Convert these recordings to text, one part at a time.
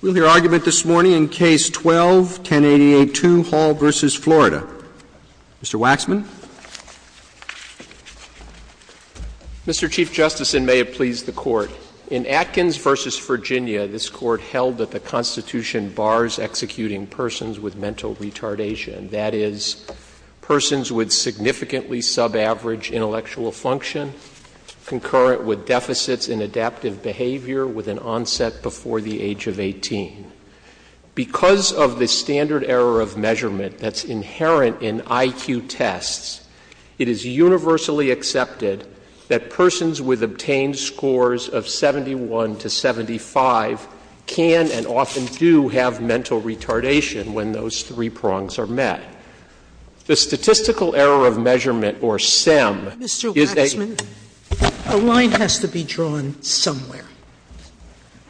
We'll hear argument this morning in Case 12-10882, Hall v. Florida. Mr. Waxman. Mr. Chief Justice, and may it please the Court, in Atkins v. Virginia, this Court held that the Constitution bars executing persons with mental retardation, that is, persons with significantly subaverage intellectual function, concurrent with deficits in adaptive behavior with an onset before the age of 18. Because of the standard error of measurement that's inherent in I.Q. tests, it is universally accepted that persons with obtained scores of 71 to 75 can and often do have mental retardation when those three prongs are met. The Statistical Error of Measurement, or SEM, is a Mr. Waxman, a line has to be drawn somewhere.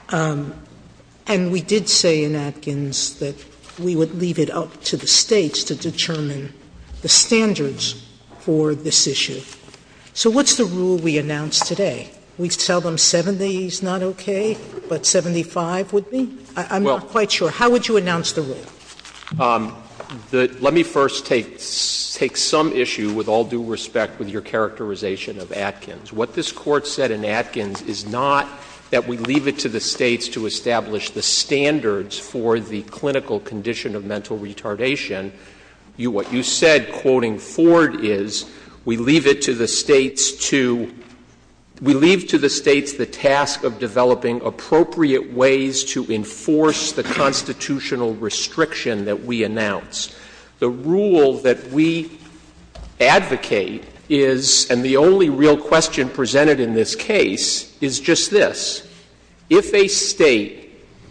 And we did say in Atkins that we would leave it up to the States to determine the standards for this issue. So what's the rule we announced today? We tell them 70 is not okay, but 75 would be? I'm not quite sure. How would you announce the rule? Let me first take some issue, with all due respect, with your characterization of Atkins. What this Court said in Atkins is not that we leave it to the States to establish the standards for the clinical condition of mental retardation. What you said, quoting Ford, is we leave it to the States to — we leave to the States the task of developing appropriate ways to enforce the constitutional restriction that we announce. The rule that we advocate is, and the only real question presented in this case, is just this. If a State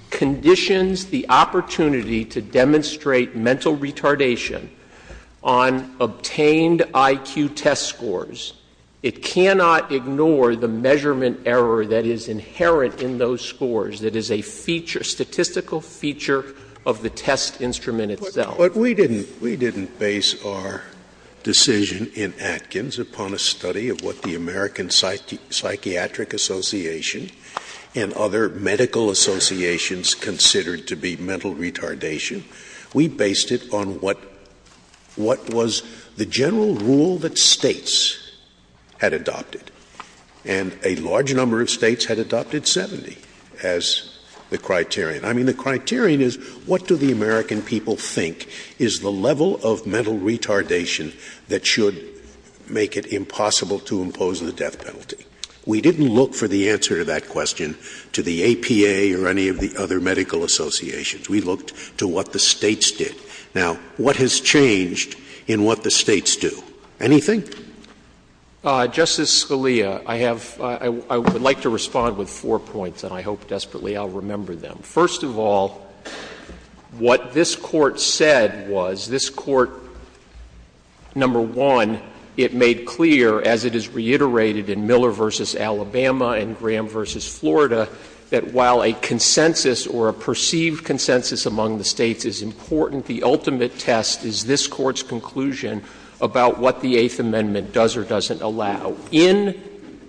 conditions the opportunity to demonstrate mental retardation on obtained IQ test scores, it cannot ignore the measurement error that is inherent in those scores, that is a feature, statistical feature of the test instrument itself. Scalia. But we didn't base our decision in Atkins upon a study of what the American Psychiatric Association and other medical associations considered to be mental retardation. We based it on what was the general rule that States had adopted, and a large number of States had adopted 70 as the criterion. I mean, the criterion is, what do the American people think is the level of mental retardation that should make it impossible to impose the death penalty? We didn't look for the answer to that question to the APA or any of the other medical associations. We looked to what the States did. Now, what has changed in what the States do? Anything? Justice Scalia, I have — I would like to respond with four points, and I hope desperately I'll remember them. First of all, what this Court said was, this Court, number one, it made clear, as it is reiterated in Miller v. Alabama and Graham v. Florida, that while a consensus or a perceived consensus among the States is important, the ultimate test is this Court's conclusion about what the Eighth Amendment does or doesn't allow. In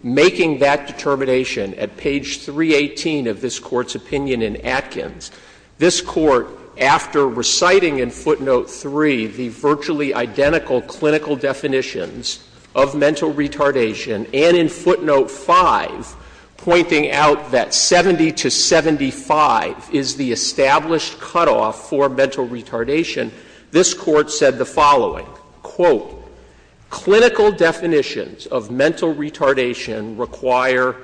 making that determination at page 318 of this Court's opinion in Atkins, this Court, after reciting in footnote 3 the virtually identical clinical definitions of mental retardation, quote, clinical definitions of mental retardation require,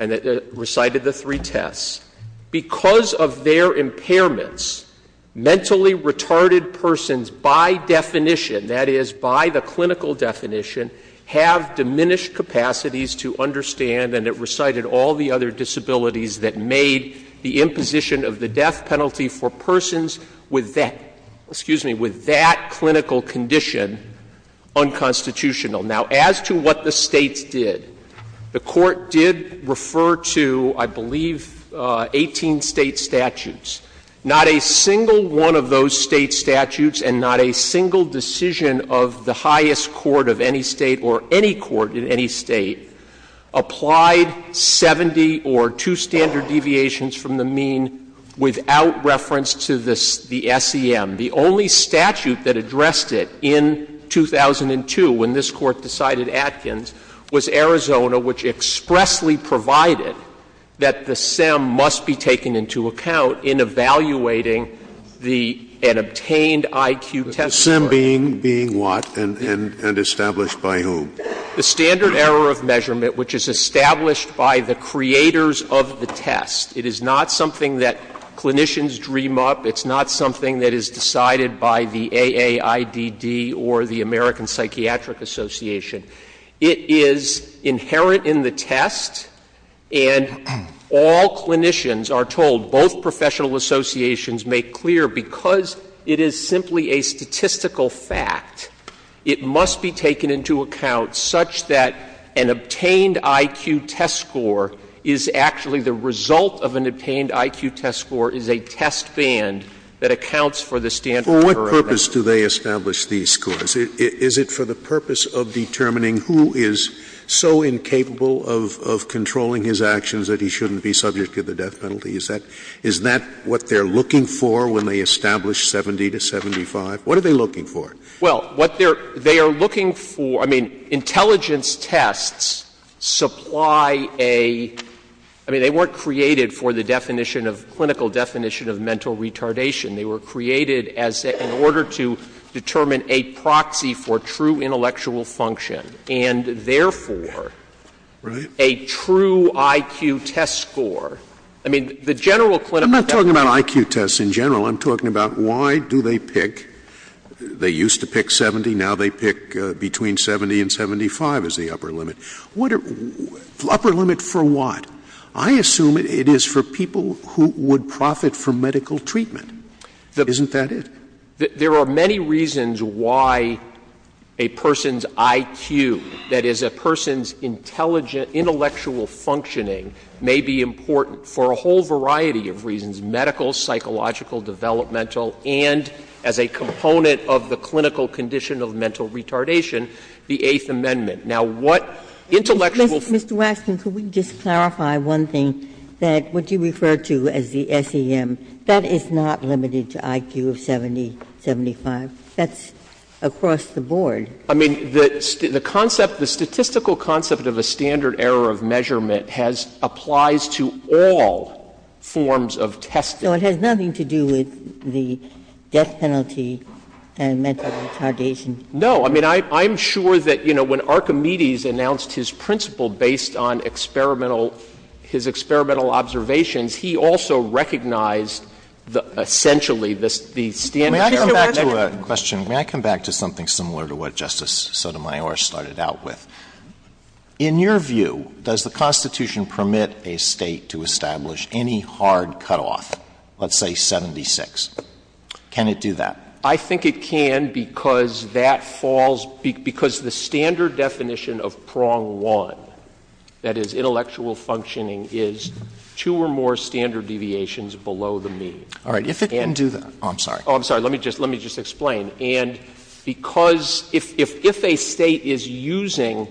and it recited the three tests, because of their impairments, mentally retarded persons, by definition, that is, by the clinical definition, have diminished capacities to understand, and it recited all the other disabilities that made the imposition of mental retardation or the imposition of the death penalty for persons with that, excuse me, with that clinical condition unconstitutional. Now, as to what the States did, the Court did refer to, I believe, 18 State statutes. Not a single one of those State statutes and not a single decision of the highest court of any State or any court in any State applied 70 or two standard deviations from the mean without reference to the SEM. The only statute that addressed it in 2002, when this Court decided Atkins, was Arizona, which expressly provided that the SEM must be taken into account in evaluating the an obtained IQ test. Scalia. The SEM being what and established by whom? Waxman. The standard error of measurement, which is established by the creators of the test. It is not something that clinicians dream up. It's not something that is decided by the AAIDD or the American Psychiatric Association. It is inherent in the test, and all clinicians are told, both professional associations make clear, because it is simply a statistical fact, it must be taken into account such that an obtained IQ test score is actually the result of an obtained IQ test score is a test band that accounts for the standard error of measurement. Scalia. For what purpose do they establish these scores? Is it for the purpose of determining who is so incapable of controlling his actions that he shouldn't be subject to the death penalty? Is that what they're looking for when they establish 70 to 75? What are they looking for? Well, what they are looking for — I mean, intelligence tests supply a — I mean, they weren't created for the definition of — clinical definition of mental retardation. They were created as — in order to determine a proxy for true intellectual function and, therefore, a true IQ test score. I mean, the general clinical definition — I'm not talking about IQ tests in general. I'm talking about why do they pick — they used to pick 70. Now they pick between 70 and 75 as the upper limit. What are — upper limit for what? I assume it is for people who would profit from medical treatment. Isn't that it? There are many reasons why a person's IQ, that is, a person's intelligent intellectual functioning, may be important for a whole variety of reasons, medical, psychological, developmental, and as a component of the clinical condition of mental retardation, the Eighth Amendment. Now, what intellectual — Mr. Waxman, could we just clarify one thing, that what you refer to as the SEM, that is not limited to IQ of 70, 75? That's across the board. I mean, the concept — the statistical concept of a standard error of measurement has — applies to all forms of testing. So it has nothing to do with the death penalty and mental retardation? No. I mean, I'm sure that, you know, when Archimedes announced his principle based on experimental — his experimental observations, he also recognized essentially the standard error of measurement. May I come back to a question? May I come back to something similar to what Justice Sotomayor started out with? In your view, does the Constitution permit a State to establish any hard cutoff of, let's say, 76? Can it do that? I think it can because that falls — because the standard definition of prong one, that is intellectual functioning, is two or more standard deviations below the mean. All right. If it can do that — oh, I'm sorry. Oh, I'm sorry. Let me just — let me just explain. And because — if a State is using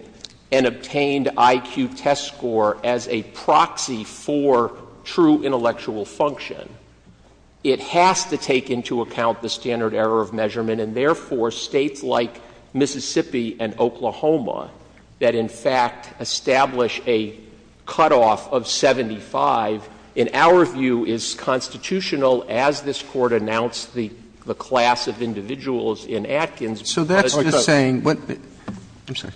an obtained IQ test score as a proxy for true intellectual function, it has to take into account the standard error of measurement. And therefore, States like Mississippi and Oklahoma that in fact establish a cutoff of 75, in our view, is constitutional as this Court announced the class of individuals in Atkins. So that's just saying what — I'm sorry.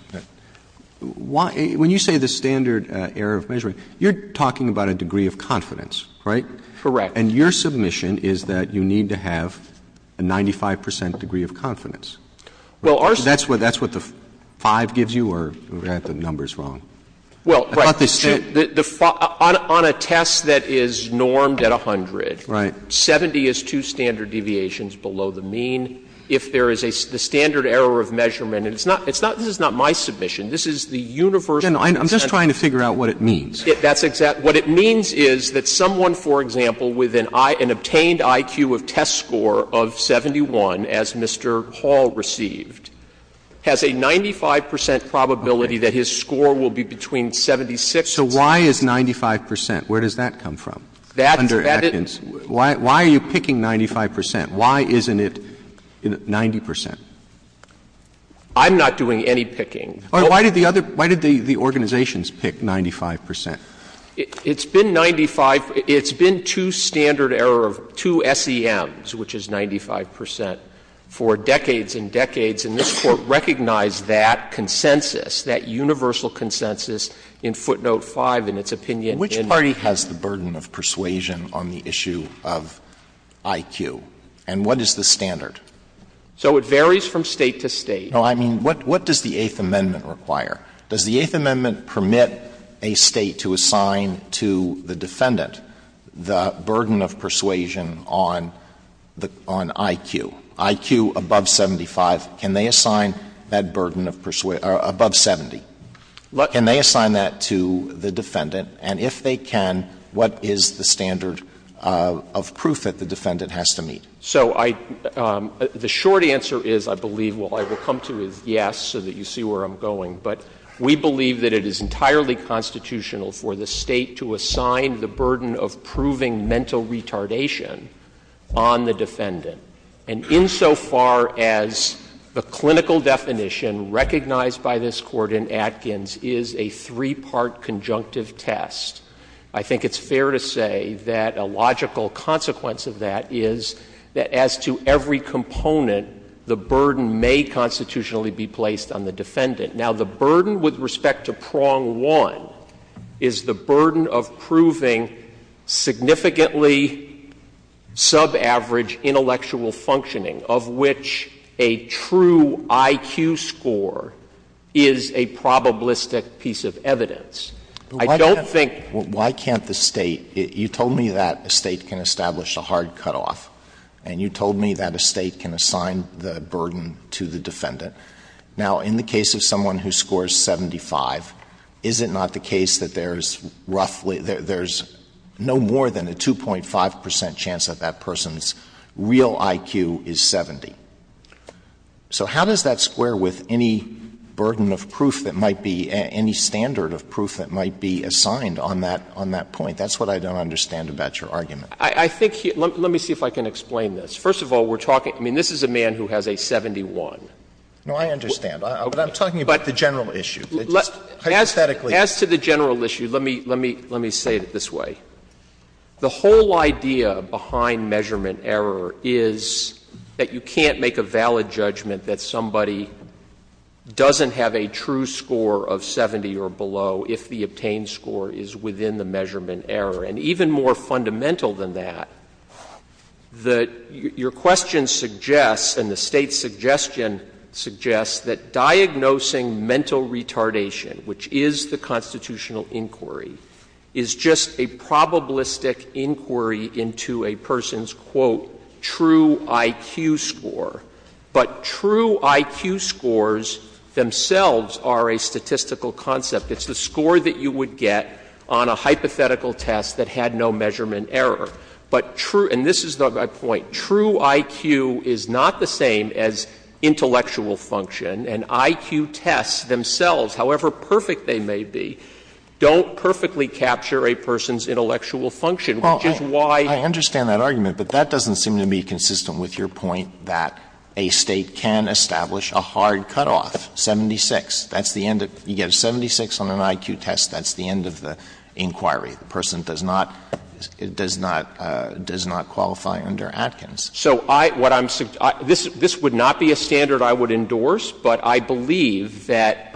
Why — when you say the standard error of measurement, you're talking about a degree of confidence, right? Correct. And your submission is that you need to have a 95 percent degree of confidence. Well, our — That's what — that's what the 5 gives you, or we've got the numbers wrong? Well, right. I thought they said — The — on a test that is normed at 100, 70 is two standard deviations below the mean. If there is a — the standard error of measurement — and it's not — it's not — this is not my submission. This is the universal — I'm just trying to figure out what it means. That's exactly — what it means is that someone, for example, with an — an obtained IQ of test score of 71, as Mr. Hall received, has a 95 percent probability that his score will be between 76 and 70. So why is 95 percent? Where does that come from under Atkins? Why are you picking 95 percent? Why isn't it 90 percent? I'm not doing any picking. Why did the other — why did the organizations pick 95 percent? It's been 95 — it's been two standard error of two SEMs, which is 95 percent, for decades and decades, and this Court recognized that consensus, that universal consensus in footnote 5 in its opinion in — Which party has the burden of persuasion on the issue of IQ, and what is the standard? So it varies from State to State. No, I mean, what — what does the Eighth Amendment require? Does the Eighth Amendment permit a State to assign to the defendant the burden of persuasion on the — on IQ? IQ above 75, can they assign that burden of persuasion — or above 70? Can they assign that to the defendant? And if they can, what is the standard of proof that the defendant has to meet? So I — the short answer is, I believe, what I will come to is yes, so that you see where I'm going. But we believe that it is entirely constitutional for the State to assign the burden of proving mental retardation on the defendant. And insofar as the clinical definition recognized by this Court in Atkins is a three-part conjunctive test, I think it's fair to say that a logical consequence of that is that as to every component, the burden may constitutionally be placed on the defendant. Now, the burden with respect to Prong 1 is the burden of proving significantly subaverage intellectual functioning, of which a true IQ score is a probabilistic piece of evidence. I don't think — But why can't — why can't the State — you told me that a State can establish a hard cutoff, and you told me that a State can assign the burden to the defendant. Now, in the case of someone who scores 75, is it not the case that there's roughly — there's no more than a 2.5 percent chance that that person's real IQ is 70? So how does that square with any burden of proof that might be — any standard of proof that might be assigned on that — on that point? That's what I don't understand about your argument. I think — let me see if I can explain this. First of all, we're talking — I mean, this is a man who has a 71. No, I understand. But I'm talking about the general issue. Hypothetically. As to the general issue, let me — let me say it this way. The whole idea behind measurement error is that you can't make a valid judgment that somebody doesn't have a true score of 70 or below if the obtained score is within the measurement error. And even more fundamental than that, the — your question suggests, and the State's suggestion suggests, that diagnosing mental retardation, which is the constitutional inquiry, is just a probabilistic inquiry into a person's, quote, true IQ score. But true IQ scores themselves are a statistical concept. It's the score that you would get on a hypothetical test that had no measurement error. But true — and this is my point. True IQ is not the same as intellectual function. And IQ tests themselves, however perfect they may be, don't perfectly capture a person's intellectual function, which is why — Alito, I understand that argument, but that doesn't seem to be consistent with your point that a State can establish a hard cutoff, 76. That's the end of — you get a 76 on an IQ test, that's the end of the inquiry. The person does not — does not — does not qualify under Atkins. So I — what I'm — this would not be a standard I would endorse, but I believe that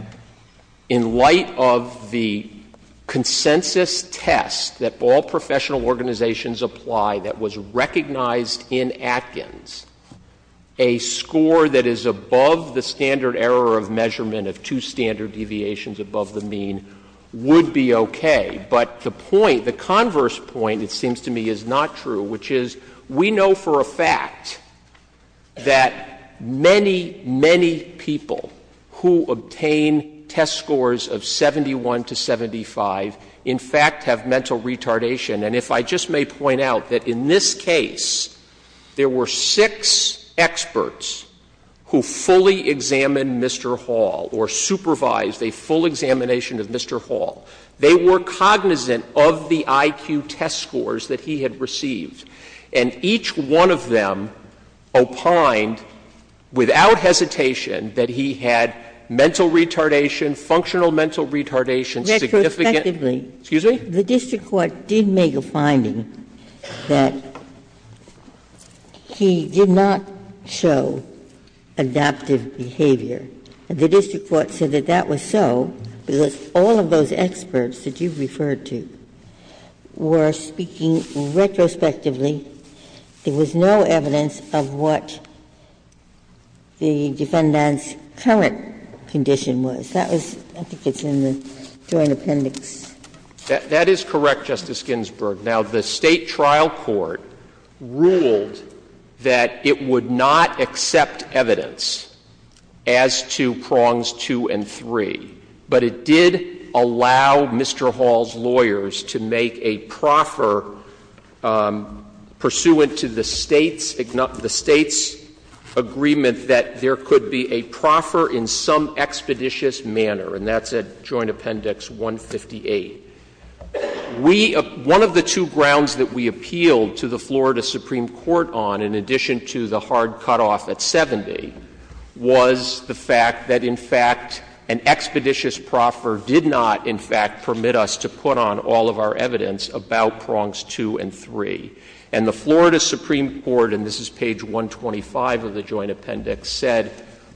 in light of the consensus test that all professional organizations apply that was recognized in Atkins, a score that is above the standard error of measurement of two standard deviations above the mean would be okay. But the point, the converse point, it seems to me, is not true, which is we know for a fact that many, many people who obtain test scores of 71 to 75, in fact, have mental retardation. And if I just may point out that in this case, there were six experts who fully examined Mr. Hall or supervised a full examination of Mr. Hall. They were cognizant of the IQ test scores that he had received. And each one of them opined without hesitation that he had mental retardation, functional mental retardation, significant — Ginsburg. Retrospectively. Excuse me? The district court did make a finding that he did not show adaptive behavior. And the district court said that that was so because all of those experts that you referred to were speaking retrospectively. There was no evidence of what the defendant's current condition was. That was — I think it's in the joint appendix. That is correct, Justice Ginsburg. Now, the State trial court ruled that it would not accept evidence as to prongs two and three, but it did allow Mr. Hall's lawyers to make a proffer pursuant to the State's — the State's agreement that there could be a proffer in some expeditious manner, and that's at joint appendix 158. We — one of the two grounds that we appealed to the Florida Supreme Court on, in addition to the hard cutoff at 70, was the fact that, in fact, an expeditious proffer did not, in fact, permit us to put on all of our evidence about prongs two and three. And the Florida Supreme Court, and this is page 125 of the joint appendix, said,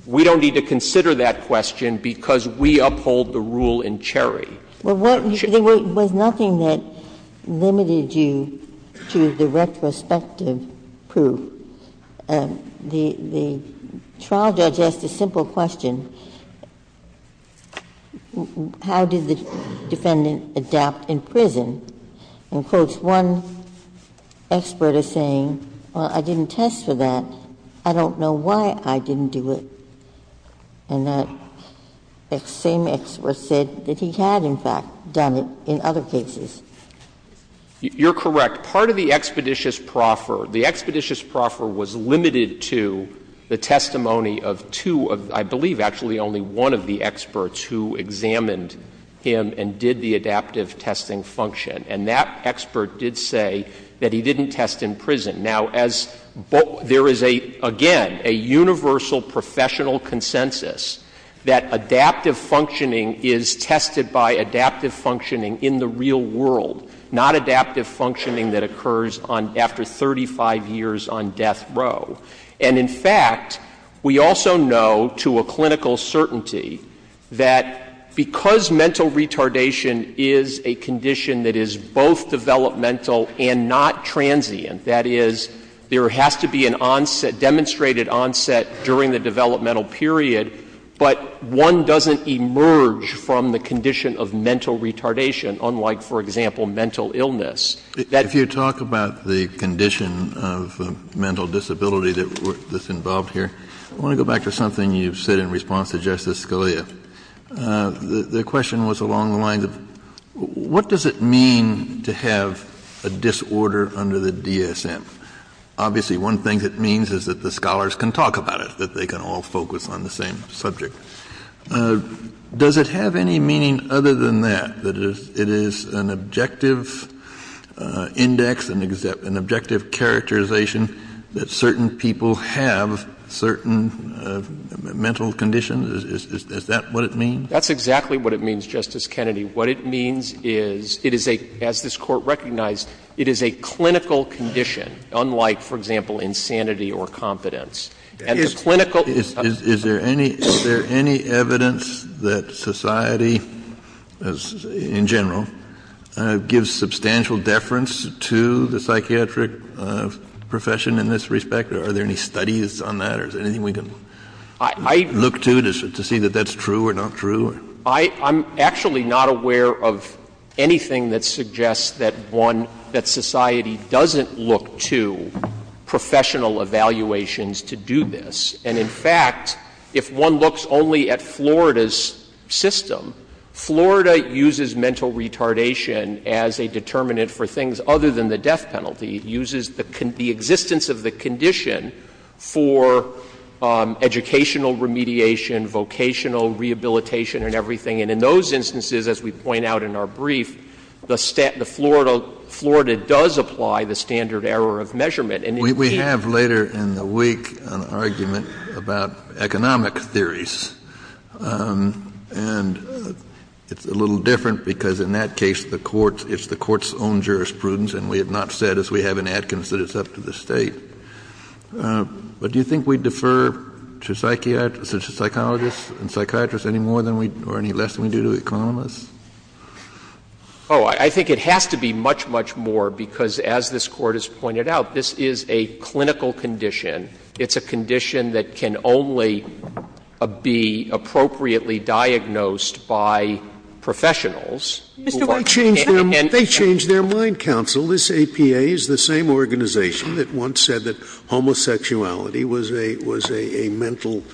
we don't need to consider that question because we uphold the rule in Cherry. Well, what — there was nothing that limited you to the retrospective proof. The trial judge asked a simple question. How did the defendant adapt in prison? In quotes, one expert is saying, well, I didn't test for that. I don't know why I didn't do it. And that same expert said that he had, in fact, done it in other cases. You're correct. Part of the expeditious proffer, the expeditious proffer was limited to the testimony of two of, I believe, actually only one of the experts who examined him and did the adaptive testing function. And that expert did say that he didn't test in prison. Now, as — there is, again, a universal professional consensus that adaptive functioning is tested by adaptive functioning in the real world, not adaptive functioning that occurs on — after 35 years on death row. And, in fact, we also know to a clinical certainty that because mental retardation is a condition that is both developmental and not transient, that is, there has to be an onset, demonstrated onset during the developmental period, but one doesn't emerge from the condition of mental retardation, unlike, for example, mental illness. Kennedy. If you talk about the condition of mental disability that's involved here, I want to go back to something you said in response to Justice Scalia. The question was along the lines of, what does it mean to have a disorder under the DSM? Obviously, one thing it means is that the scholars can talk about it, that they can all focus on the same subject. Does it have any meaning other than that, that it is an objective index, an objective characterization that certain people have certain mental conditions? Is that what it means? That's exactly what it means, Justice Kennedy. What it means is, it is a — as this Court recognized, it is a clinical condition, unlike, for example, insanity or competence. And the clinical — Is there any — is there any evidence that society, in general, gives substantial deference to the psychiatric profession in this respect, or are there any studies on that, or is there anything we can look to to see that that's true or not true? I'm actually not aware of anything that suggests that one — that society doesn't look to professional evaluations to do this. And, in fact, if one looks only at Florida's system, Florida uses mental retardation as a determinant for things other than the death penalty. It uses the existence of the condition for educational remediation, vocational rehabilitation and everything. And in those instances, as we point out in our brief, the Florida does apply the standard error of measurement. And, indeed — We have, later in the week, an argument about economic theories. And it's a little different because, in that case, the Court — it's the Court's own jurisprudence, and we have not said, as we have in Atkins, that it's up to the State. But do you think we defer to psychiatrists — to psychologists and psychiatrists any more than we — or any less than we do to economists? Oh, I think it has to be much, much more, because, as this Court has pointed out, this is a clinical condition. It's a condition that can only be appropriately diagnosed by professionals who are — They change their mind, counsel. This APA is the same organization that once said that homosexuality was a — was a mental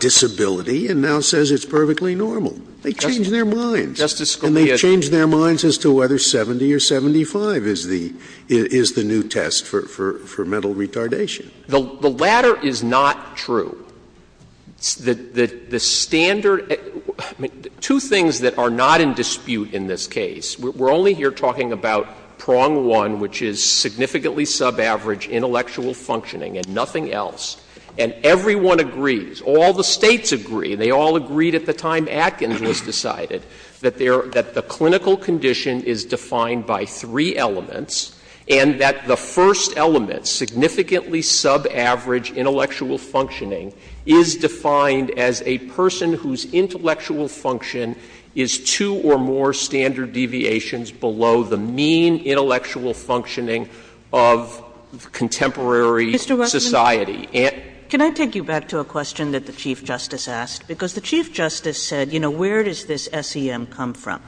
disability and now says it's perfectly normal. They change their minds. Justice Scalia — And they change their minds as to whether 70 or 75 is the new test for mental retardation. The latter is not true. The standard — two things that are not in dispute in this case. We're only here talking about prong one, which is significantly subaverage intellectual functioning and nothing else. And everyone agrees, all the States agree, and they all agreed at the time Atkins was decided, that the clinical condition is defined by three elements, and that the first element, significantly subaverage intellectual functioning, is defined as a person whose intellectual function is two or more standard deviations below the mean intellectual functioning of contemporary society. And — Can I take you back to a question that the Chief Justice asked? Because the Chief Justice said, you know, where does this SEM come from?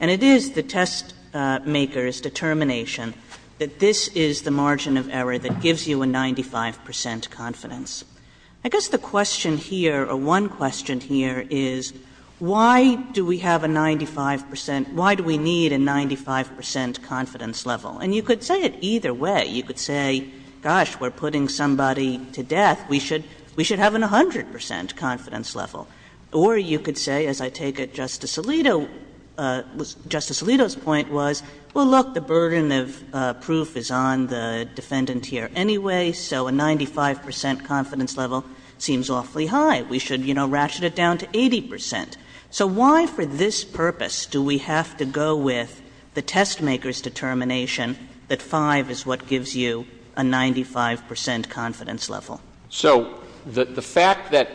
And it is the test maker's determination that this is the margin of error that gives you a 95 percent confidence. I guess the question here, or one question here, is why do we have a 95 percent — why do we need a 95 percent confidence level? And you could say it either way. You could say, gosh, we're putting somebody to death. We should — we should have a 100 percent confidence level. Or you could say, as I take it, Justice Alito — Justice Alito's point was, well, look, the burden of proof is on the defendant here anyway, so a 95 percent confidence level seems awfully high. We should, you know, ratchet it down to 80 percent. So why, for this purpose, do we have to go with the test maker's determination that 5 is what gives you a 95 percent confidence level? So the fact that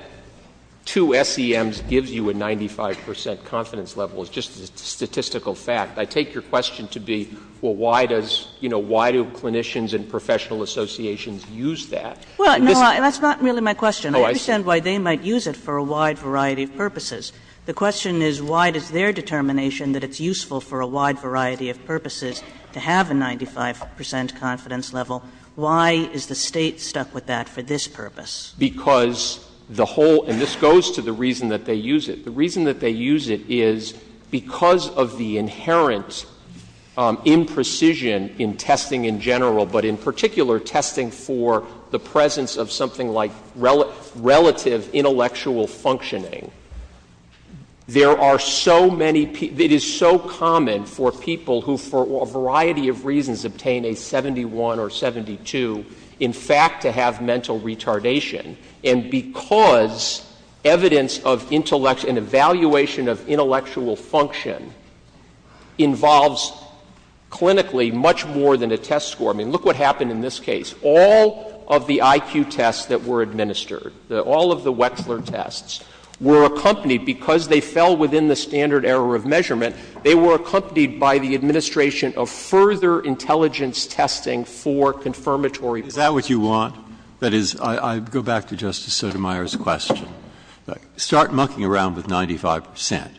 two SEMs gives you a 95 percent confidence level is just a statistical fact. I take your question to be, well, why does, you know, why do clinicians and professional associations use that? And this is— Kagan. Well, no, that's not really my question. I understand why they might use it for a wide variety of purposes. The question is, why does their determination that it's useful for a wide variety of purposes to have a 95 percent confidence level, why is the State stuck with that for this purpose? Because the whole—and this goes to the reason that they use it. The reason that they use it is because of the inherent imprecision in testing in general, but in particular, testing for the presence of something like relative intellectual functioning. There are so many—it is so common for people who, for a variety of reasons, obtain a 71 or 72, in fact, to have mental retardation. And because evidence of intellect and evaluation of intellectual function involves clinically much more than a test score. I mean, look what happened in this case. All of the IQ tests that were administered, all of the Wechsler tests, were accompanied because they fell within the standard error of measurement, they were accompanied by the administration of further intelligence testing for confirmatory— Breyer. Is that what you want? That is, I go back to Justice Sotomayor's question. Start mucking around with 95 percent.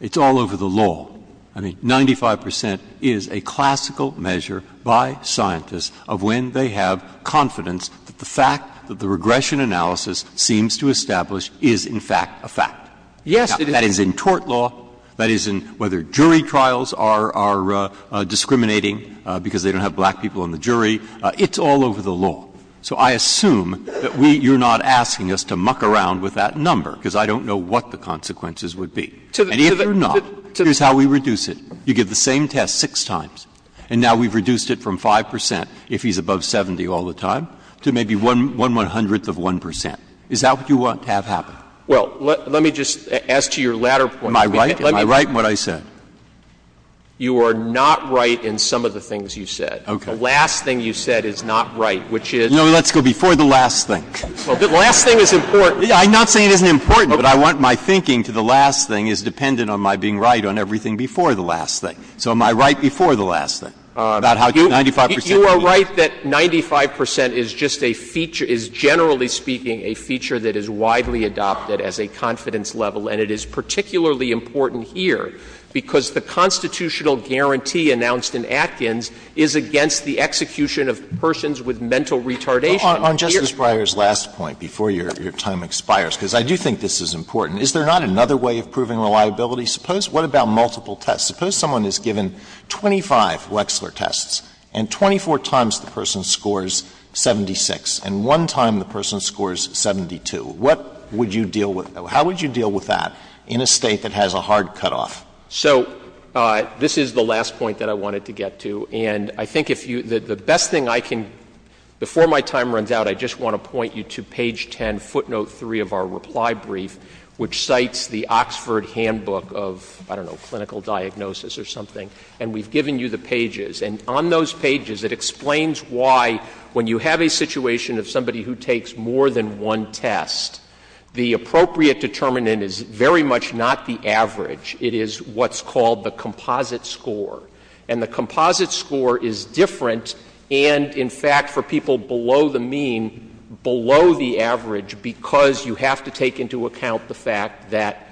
It's all over the law. I mean, 95 percent is a classical measure by scientists of when they have confidence that the fact that the regression analysis seems to establish is, in fact, a fact. Yes, it is. It is in tort law. That is, in whether jury trials are discriminating because they don't have black people on the jury. It's all over the law. So I assume that we — you're not asking us to muck around with that number, because I don't know what the consequences would be. And if you're not, here's how we reduce it. You give the same test six times, and now we've reduced it from 5 percent, if he's above 70 all the time, to maybe one one-hundredth of 1 percent. Is that what you want to have happen? Well, let me just ask you your latter point. Am I right? Am I right in what I said? You are not right in some of the things you said. Okay. The last thing you said is not right, which is? No, let's go before the last thing. Well, the last thing is important. I'm not saying it isn't important, but I want my thinking to the last thing is dependent on my being right on everything before the last thing. So am I right before the last thing about how 95 percent would be? The last thing I'm going to say is that the test is generally speaking a feature that is widely adopted as a confidence level, and it is particularly important here because the constitutional guarantee announced in Atkins is against the execution of persons with mental retardation. On Justice Breyer's last point, before your time expires, because I do think this is important, is there not another way of proving reliability? Suppose what about multiple tests? Suppose someone is given 25 Wexler tests and 24 times the person scores 76 and one time the person scores 72. What would you deal with that? How would you deal with that in a State that has a hard cutoff? So this is the last point that I wanted to get to. And I think if you — the best thing I can — before my time runs out, I just want to point you to page 10, footnote 3 of our reply brief, which cites the Oxford Handbook of, I don't know, clinical diagnosis or something. And we've given you the pages. And on those pages, it explains why when you have a situation of somebody who takes more than one test, the appropriate determinant is very much not the average. It is what's called the composite score. And the composite score is different and, in fact, for people below the mean, below the average because you have to take into account the fact that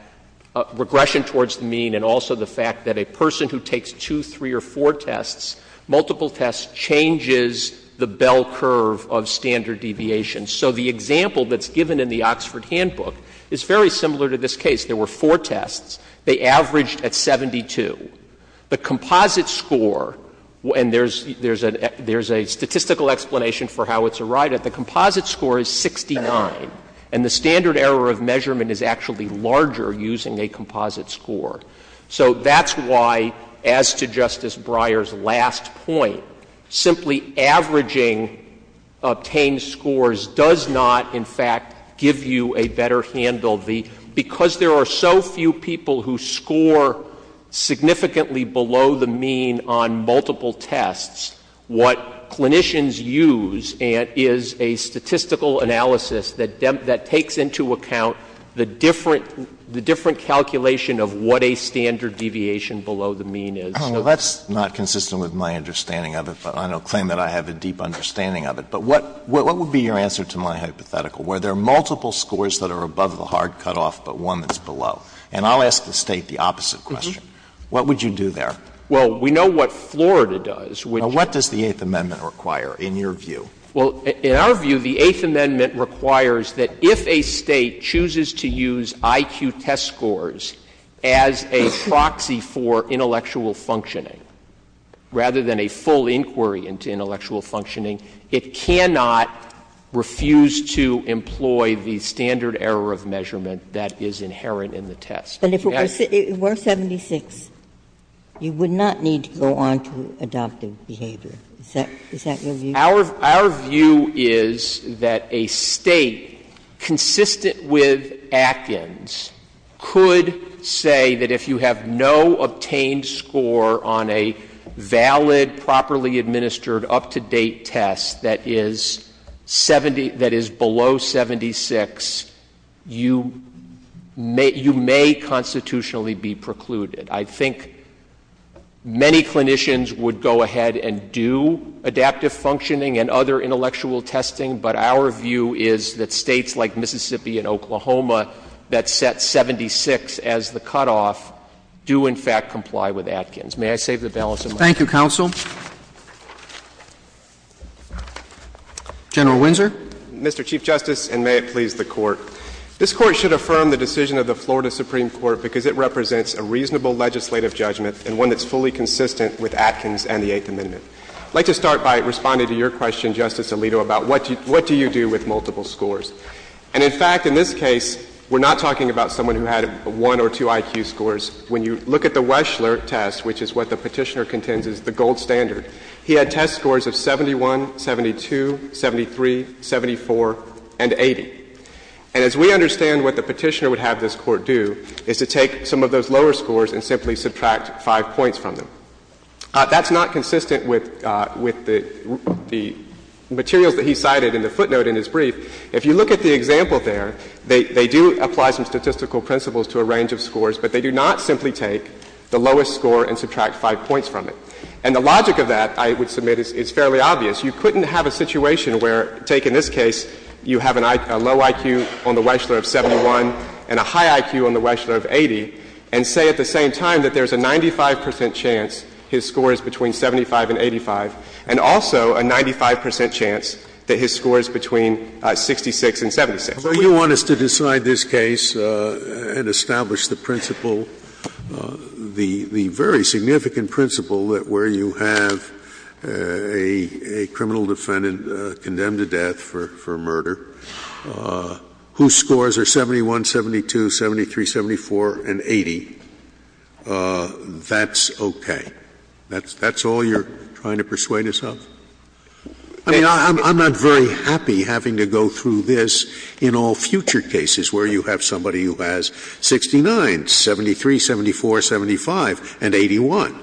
regression towards the mean and also the fact that a person who takes two, three or four tests, multiple tests changes the bell curve of standard deviation. So the example that's given in the Oxford Handbook is very similar to this case. There were four tests. They averaged at 72. The composite score, and there's a statistical explanation for how it's arrived at, the composite score is 69. And the standard error of measurement is actually larger using a composite score. So that's why, as to Justice Breyer's last point, simply averaging obtained scores does not, in fact, give you a better handle. Because there are so few people who score significantly below the mean on multiple tests, what clinicians use is a statistical analysis that takes into account the different calculation of what a standard deviation below the mean is. So that's not consistent with my understanding of it, but I don't claim that I have a deep understanding of it. But what would be your answer to my hypothetical, where there are multiple scores that are above the hard cutoff but one that's below? And I'll ask the State the opposite question. What would you do there? Well, we know what Florida does. Now, what does the Eighth Amendment require, in your view? Well, in our view, the Eighth Amendment requires that if a State chooses to use IQ test scores as a proxy for intellectual functioning, rather than a full inquiry into intellectual functioning, it cannot refuse to employ the standard error of measurement that is inherent in the test. And if it were 76, you would not need to go on to adoptive behavior. Is that your view? Our view is that a State consistent with Atkins could say that if you have no obtained score on a valid, properly administered, up-to-date test that is below 76, you may constitutionally be precluded. I think many clinicians would go ahead and do adaptive functioning and other intellectual testing, but our view is that States like Mississippi and Oklahoma that set 76 as the cutoff do, in fact, comply with Atkins. May I save the balance of my time? Thank you, counsel. General Windsor. Mr. Chief Justice, and may it please the Court. This Court should affirm the decision of the Florida Supreme Court because it represents a reasonable legislative judgment and one that's fully consistent with Atkins and the Eighth Amendment. I'd like to start by responding to your question, Justice Alito, about what do you do with multiple scores. And in fact, in this case, we're not talking about someone who had one or two IQ scores. When you look at the Weschler test, which is what the Petitioner contends is the gold standard, he had test scores of 71, 72, 73, 74 and 80. And as we understand what the Petitioner would have this Court do is to take some of those lower scores and simply subtract five points from them. That's not consistent with the materials that he cited in the footnote in his brief. If you look at the example there, they do apply some statistical principles to a range of scores, but they do not simply take the lowest score and subtract five points from it. And the logic of that, I would submit, is fairly obvious. You couldn't have a situation where, take in this case, you have a low IQ on the Weschler of 71 and a high IQ on the Weschler of 80, and say at the same time that there's a 95 percent chance his score is between 75 and 85, and also a 95 percent chance that his score is between 66 and 76. Scalia. You want us to decide this case and establish the principle, the very significant principle, that where you have a criminal defendant condemned to death for murder whose scores are 71, 72, 73, 74 and 80, that's okay? That's all you're trying to persuade us of? I mean, I'm not very happy having to go through this in all future cases where you have somebody who has 69, 73, 74, 75 and 81.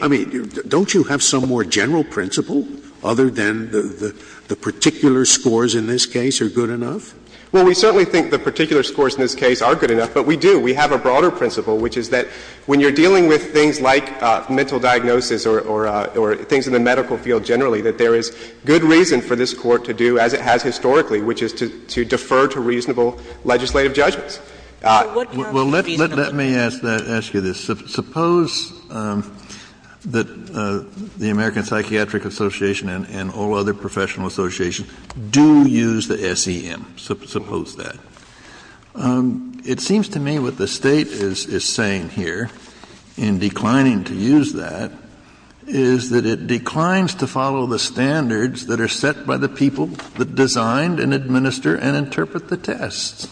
I mean, don't you have some more general principle other than the particular scores in this case are good enough? Well, we certainly think the particular scores in this case are good enough, but we do. We have a broader principle, which is that when you're dealing with things like mental diagnosis or things in the medical field generally, that there is good reason for this Court to do, as it has historically, which is to defer to reasonable legislative judgments. Well, let me ask you this. Suppose that the American Psychiatric Association and all other professional associations do use the SEM. Suppose that. It seems to me what the State is saying here in declining to use that is that it declines to follow the standards that are set by the people that designed and administer and interpret the tests.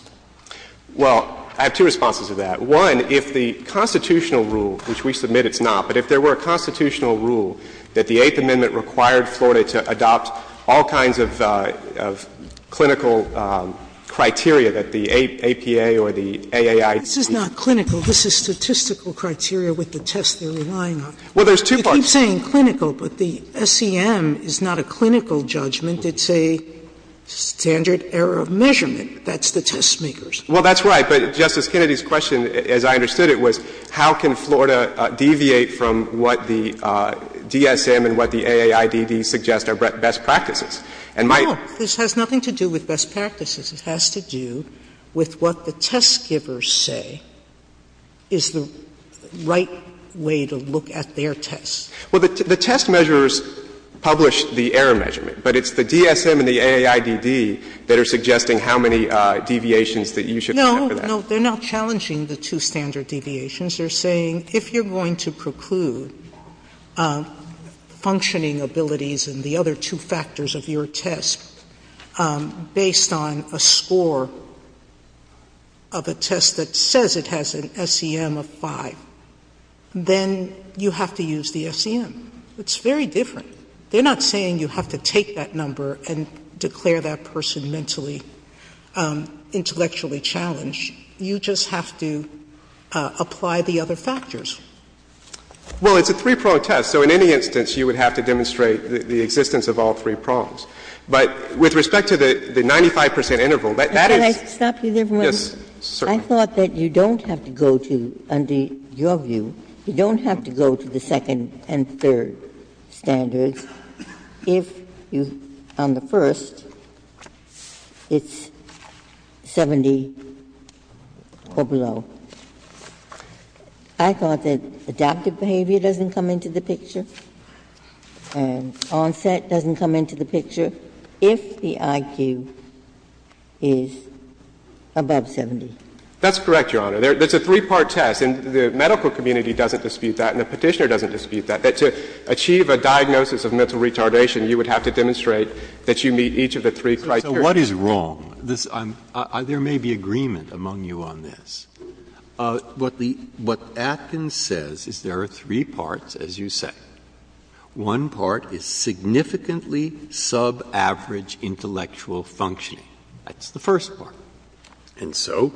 Well, I have two responses to that. One, if the constitutional rule, which we submit it's not, but if there were a constitutional rule that the Eighth Amendment required Florida to adopt all kinds of clinical criteria that the APA or the AAIT. This is not clinical. This is statistical criteria with the tests they're relying on. Well, there's two parts. Sotomayor, I keep saying clinical, but the SEM is not a clinical judgment. It's a standard error of measurement. That's the test makers. Well, that's right. But Justice Kennedy's question, as I understood it, was how can Florida deviate from what the DSM and what the AAID suggest are best practices. And my. No. This has nothing to do with best practices. It has to do with what the test givers say is the right way to look at their tests. Well, the test measures publish the error measurement. But it's the DSM and the AAID that are suggesting how many deviations that you should look at for that. No. No. They're not challenging the two standard deviations. They're saying if you're going to preclude functioning abilities and the other two factors of your test based on a score of a test that says it has an SEM of 5, then you have to use the SEM. It's very different. They're not saying you have to take that number and declare that person mentally intellectually challenged. You just have to apply the other factors. Well, it's a three-prong test. So in any instance, you would have to demonstrate the existence of all three prongs. But with respect to the 95 percent interval, that is. Can I stop you there for a moment? Yes, certainly. I thought that you don't have to go to, under your view, you don't have to go to the second and third standards if you, on the first, it's 70 or below. I thought that adaptive behavior doesn't come into the picture and onset doesn't come into the picture if the IQ is above 70. That's correct, Your Honor. It's a three-part test. And the medical community doesn't dispute that and the Petitioner doesn't dispute that, that to achieve a diagnosis of mental retardation, you would have to demonstrate that you meet each of the three criteria. So what is wrong? There may be agreement among you on this. What Atkins says is there are three parts, as you say. One part is significantly subaverage intellectual functioning. That's the first part. And so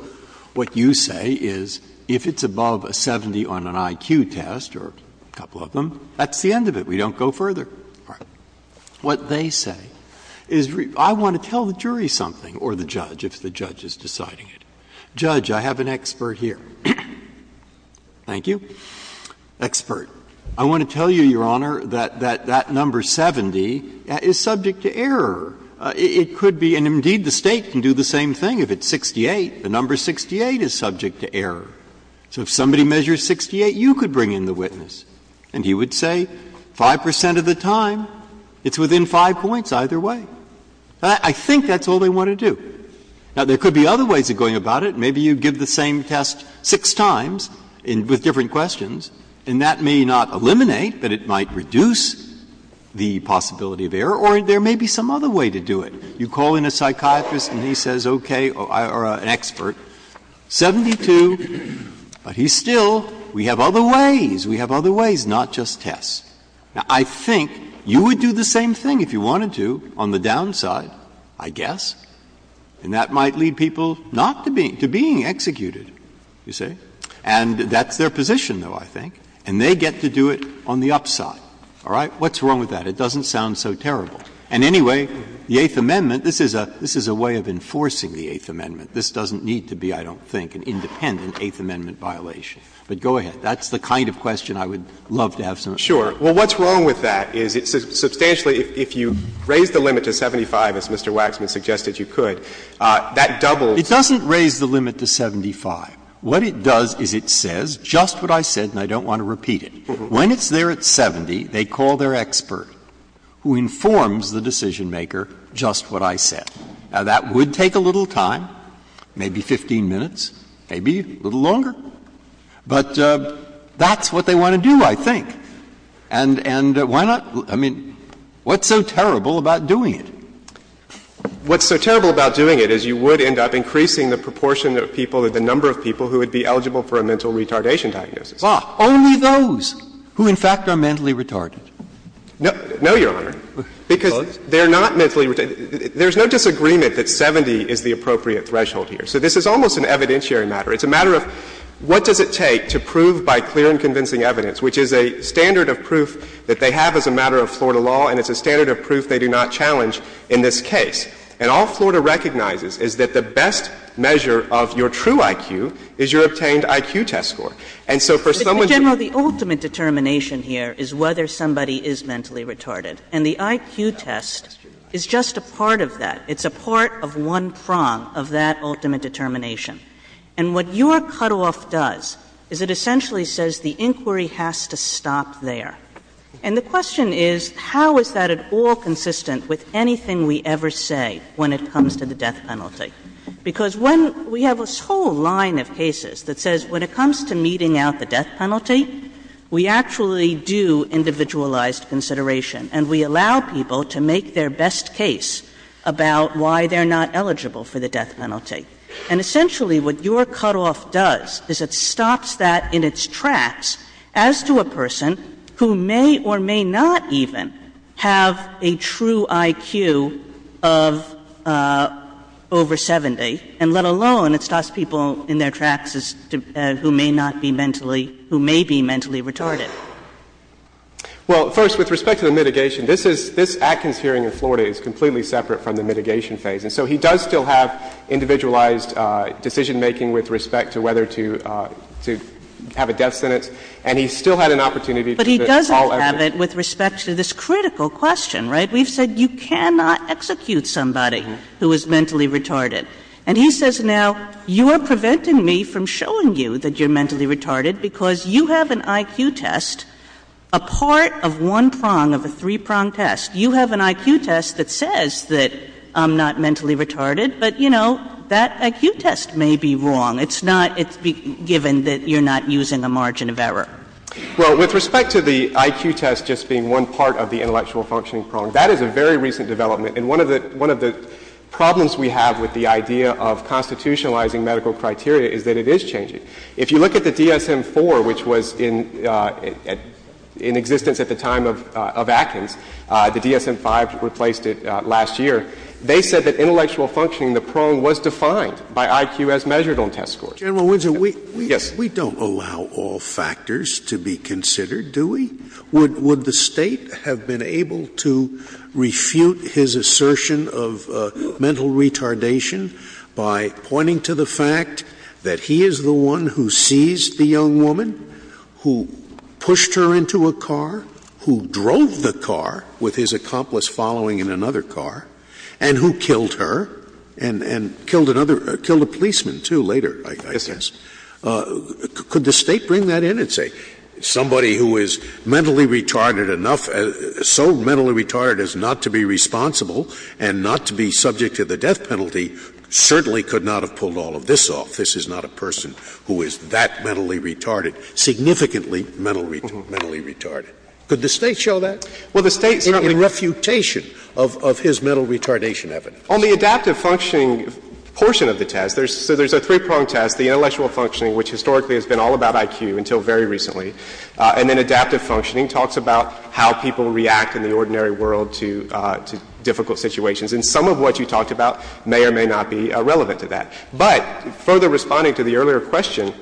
what you say is if it's above a 70 on an IQ test or a couple of them, that's the end of it. We don't go further. All right. What they say is I want to tell the jury something, or the judge, if the judge is deciding Judge, I have an expert here. Thank you. Expert. I want to tell you, Your Honor, that that number 70 is subject to error. It could be, and indeed the State can do the same thing. If it's 68, the number 68 is subject to error. So if somebody measures 68, you could bring in the witness. And he would say 5 percent of the time, it's within 5 points either way. I think that's all they want to do. Now, there could be other ways of going about it. Maybe you give the same test six times with different questions, and that means it may not eliminate, but it might reduce the possibility of error. Or there may be some other way to do it. You call in a psychiatrist and he says, okay, or an expert, 72, but he's still we have other ways. We have other ways, not just tests. Now, I think you would do the same thing if you wanted to on the downside, I guess. And that might lead people not to being executed, you see. And that's their position, though, I think. And they get to do it on the upside. All right? What's wrong with that? It doesn't sound so terrible. And anyway, the Eighth Amendment, this is a way of enforcing the Eighth Amendment. This doesn't need to be, I don't think, an independent Eighth Amendment violation. But go ahead. That's the kind of question I would love to have someone answer. What's wrong with that is substantially, if you raise the limit to 75, as Mr. Waxman suggested you could, that doubles. It doesn't raise the limit to 75. What it does is it says just what I said, and I don't want to repeat it. When it's there at 70, they call their expert who informs the decisionmaker just what I said. Now, that would take a little time, maybe 15 minutes, maybe a little longer. But that's what they want to do, I think. And why not? I mean, what's so terrible about doing it? What's so terrible about doing it is you would end up increasing the proportion of people or the number of people who would be eligible for a mental retardation diagnosis. Roberts. Only those who, in fact, are mentally retarded. No, Your Honor, because they're not mentally retarded. There's no disagreement that 70 is the appropriate threshold here. So this is almost an evidentiary matter. It's a matter of what does it take to prove by clear and convincing evidence, which is a standard of proof that they have as a matter of Florida law, and it's a standard of proof they do not challenge in this case. And all Florida recognizes is that the best measure of your true IQ is your obtained IQ test score. And so for someone to be able to do that. But, Mr. General, the ultimate determination here is whether somebody is mentally retarded, and the IQ test is just a part of that. It's a part of one prong of that ultimate determination. And what your cutoff does is it essentially says the inquiry has to stop there. And the question is, how is that at all consistent with anything we ever say when it comes to the death penalty? Because when we have this whole line of cases that says when it comes to meting out the death penalty, we actually do individualized consideration, and we allow people to make their best case about why they're not eligible for the death penalty. And essentially what your cutoff does is it stops that in its tracks as to a person who may or may not even have a true IQ of over 70, and let alone it stops people in their tracks as to who may not be mentally — who may be mentally retarded. Well, first, with respect to the mitigation, this is — this Atkins hearing in Florida is completely separate from the mitigation phase. And so he does still have individualized decision-making with respect to whether to have a death sentence. And he still had an opportunity to all evidence. But he doesn't have it with respect to this critical question, right? We've said you cannot execute somebody who is mentally retarded. And he says, now, you are preventing me from showing you that you're mentally retarded because you have an IQ test, a part of one prong of a three-prong test. You have an IQ test that says that I'm not mentally retarded, but, you know, that IQ test may be wrong. It's not — it's given that you're not using a margin of error. Well, with respect to the IQ test just being one part of the intellectual functioning prong, that is a very recent development. And one of the — one of the problems we have with the idea of constitutionalizing medical criteria is that it is changing. If you look at the DSM-IV, which was in existence at the time of Atkins, the DSM-V replaced it last year, they said that intellectual functioning, the prong, was defined by IQ as measured on test scores. General Windsor, we don't allow all factors to be considered, do we? Would the State have been able to refute his assertion of mental retardation by pointing to the fact that he is the one who seized the young woman, who pushed her into a car, who drove the car with his accomplice following in another car, and who killed her, and killed another — killed a policeman, too, later, I guess. Yes, yes. Could the State bring that in and say somebody who is mentally retarded enough — so mentally retarded as not to be responsible and not to be subject to the death penalty certainly could not have pulled all of this off. This is not a person who is that mentally retarded, significantly mentally retarded. Well, the State's not going to. It is not going to refute that. And that's the problem with the State's refutation of his mental retardation evidence. On the adaptive functioning portion of the test, there's — so there's a three-prong test, the intellectual functioning, which historically has been all about IQ until very recently, and then adaptive functioning talks about how people react in the ordinary world to difficult situations. And some of what you talked about may or may not be relevant to that. But further responding to the earlier question,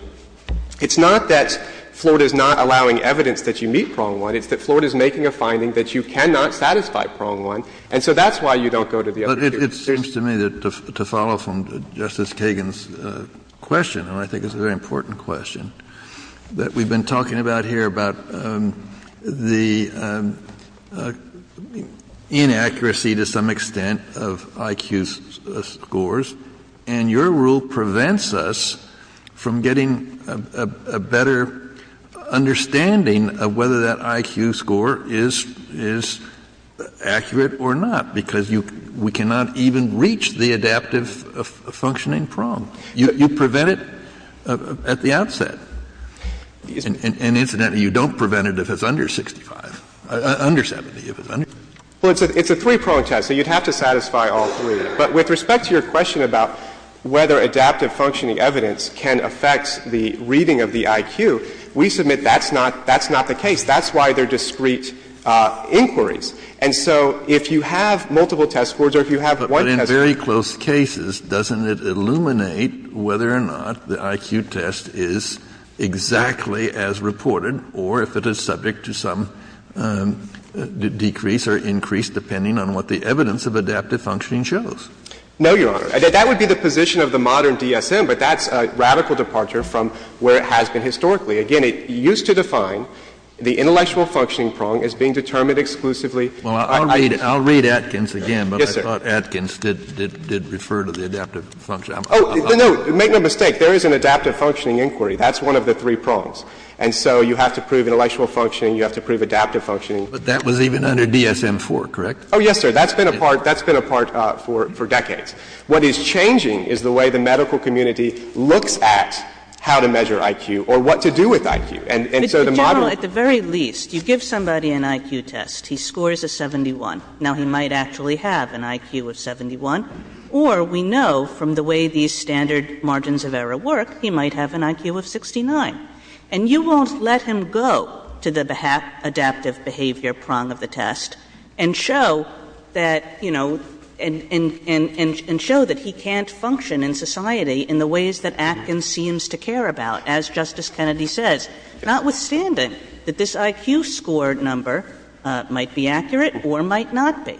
it's not that Florida is not allowing evidence that you meet prong one. It's that Florida is making a finding that you cannot satisfy prong one, and so that's why you don't go to the other two. Kennedy. But it seems to me that to follow from Justice Kagan's question, and I think it's a very important question, that we've been talking about here about the inaccuracy to some extent of IQ scores. And your rule prevents us from getting a better understanding of whether that IQ score is accurate or not, because we cannot even reach the adaptive functioning prong. You prevent it at the outset. And incidentally, you don't prevent it if it's under 65, under 70. Well, it's a three-prong test, so you'd have to satisfy all three. But with respect to your question about whether adaptive functioning evidence can affect the reading of the IQ, we submit that's not the case. That's why there are discrete inquiries. And so if you have multiple test scores or if you have one test score. Kennedy In very close cases, doesn't it illuminate whether or not the IQ test is exactly as reported, or if it is subject to some decrease or increase depending on what the evidence of adaptive functioning shows? No, Your Honor. That would be the position of the modern DSM, but that's a radical departure from where it has been historically. Again, it used to define the intellectual functioning prong as being determined exclusively. Well, I'll read Atkins again, but I thought Atkins did refer to the adaptive functioning prong. Oh, no, make no mistake. There is an adaptive functioning inquiry. That's one of the three prongs. And so you have to prove intellectual functioning. You have to prove adaptive functioning. But that was even under DSM-IV, correct? Oh, yes, sir. That's been a part for decades. What is changing is the way the medical community looks at how to measure IQ or what to do with IQ. And so the modern. Well, at the very least, you give somebody an IQ test. He scores a 71. Now, he might actually have an IQ of 71. Or we know from the way these standard margins of error work, he might have an IQ of 69. And you won't let him go to the adaptive behavior prong of the test and show that, you know, and show that he can't function in society in the ways that Atkins seems to care about, as Justice Kennedy says. Notwithstanding that this IQ score number might be accurate or might not be.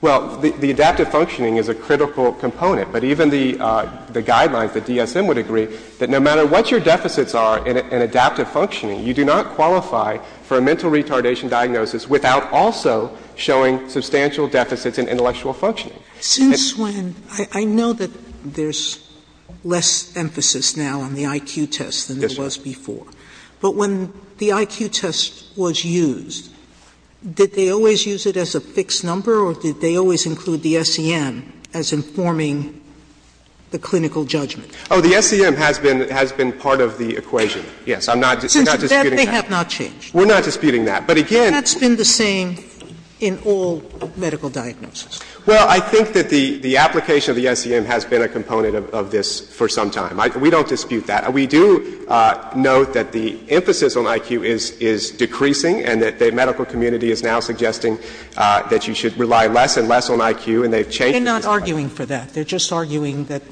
Well, the adaptive functioning is a critical component. But even the guidelines, the DSM would agree that no matter what your deficits are in adaptive functioning, you do not qualify for a mental retardation diagnosis without also showing substantial deficits in intellectual functioning. Since when? I know that there's less emphasis now on the IQ test than there was before. But when the IQ test was used, did they always use it as a fixed number or did they always include the SEM as informing the clinical judgment? Oh, the SEM has been part of the equation. Yes. I'm not disputing that. Since then, they have not changed. We're not disputing that. But again That's been the same in all medical diagnoses. Well, I think that the application of the SEM has been a component of this for some time. We don't dispute that. We do note that the emphasis on IQ is decreasing and that the medical community is now suggesting that you should rely less and less on IQ and they've changed this. They're not arguing for that. They're just arguing that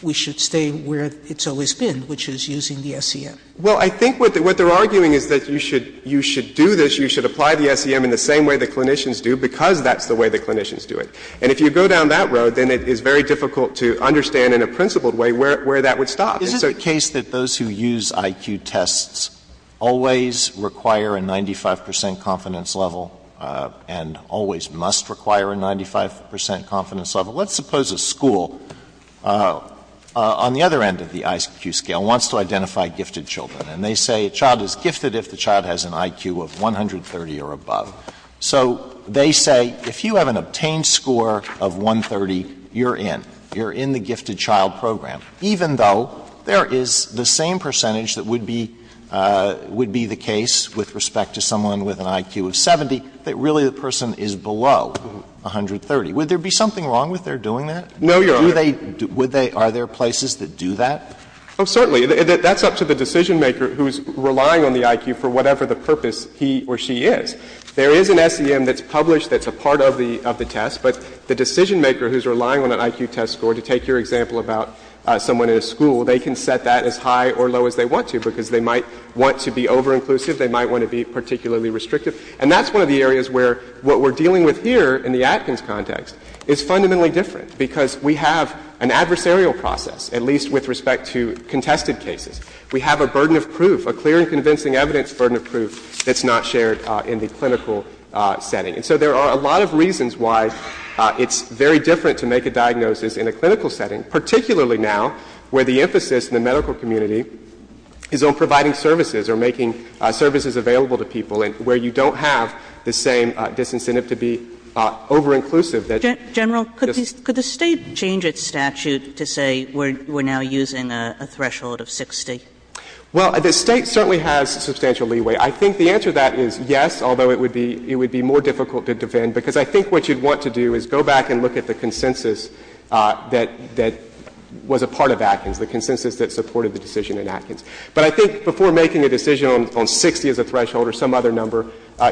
we should stay where it's always been, which is using the SEM. Well, I think what they're arguing is that you should do this, you should apply the SEM in the same way the clinicians do because that's the way the clinicians do it. And if you go down that road, then it is very difficult to understand in a principled way where that would stop. Is it the case that those who use IQ tests always require a 95 percent confidence level and always must require a 95 percent confidence level? Let's suppose a school on the other end of the IQ scale wants to identify gifted children and they say a child is gifted if the child has an IQ of 130 or above. So they say if you have an obtained score of 130, you're in. You're in the gifted child program. Even though there is the same percentage that would be the case with respect to someone with an IQ of 70, that really the person is below 130. Would there be something wrong with their doing that? No, Your Honor. Are there places that do that? Oh, certainly. That's up to the decisionmaker who's relying on the IQ for whatever the purpose he or she is. There is an SEM that's published that's a part of the test, but the decisionmaker who's relying on an IQ test score, to take your example about someone in a school, they can set that as high or low as they want to because they might want to be overinclusive. They might want to be particularly restrictive. And that's one of the areas where what we're dealing with here in the Atkins context is fundamentally different because we have an adversarial process, at least with respect to contested cases. We have a burden of proof, a clear and convincing evidence burden of proof that's not shared in the clinical setting. And so there are a lot of reasons why it's very different to make a diagnosis in a clinical setting, particularly now where the emphasis in the medical community is on providing services or making services available to people and where you don't have the same disincentive to be overinclusive. General, could the State change its statute to say we're now using a threshold of 60? Well, the State certainly has substantial leeway. I think the answer to that is yes, although it would be more difficult to defend because I think what you'd want to do is go back and look at the consensus that was a part of Atkins, the consensus that supported the decision in Atkins. But I think before making a decision on 60 as a threshold or some other number,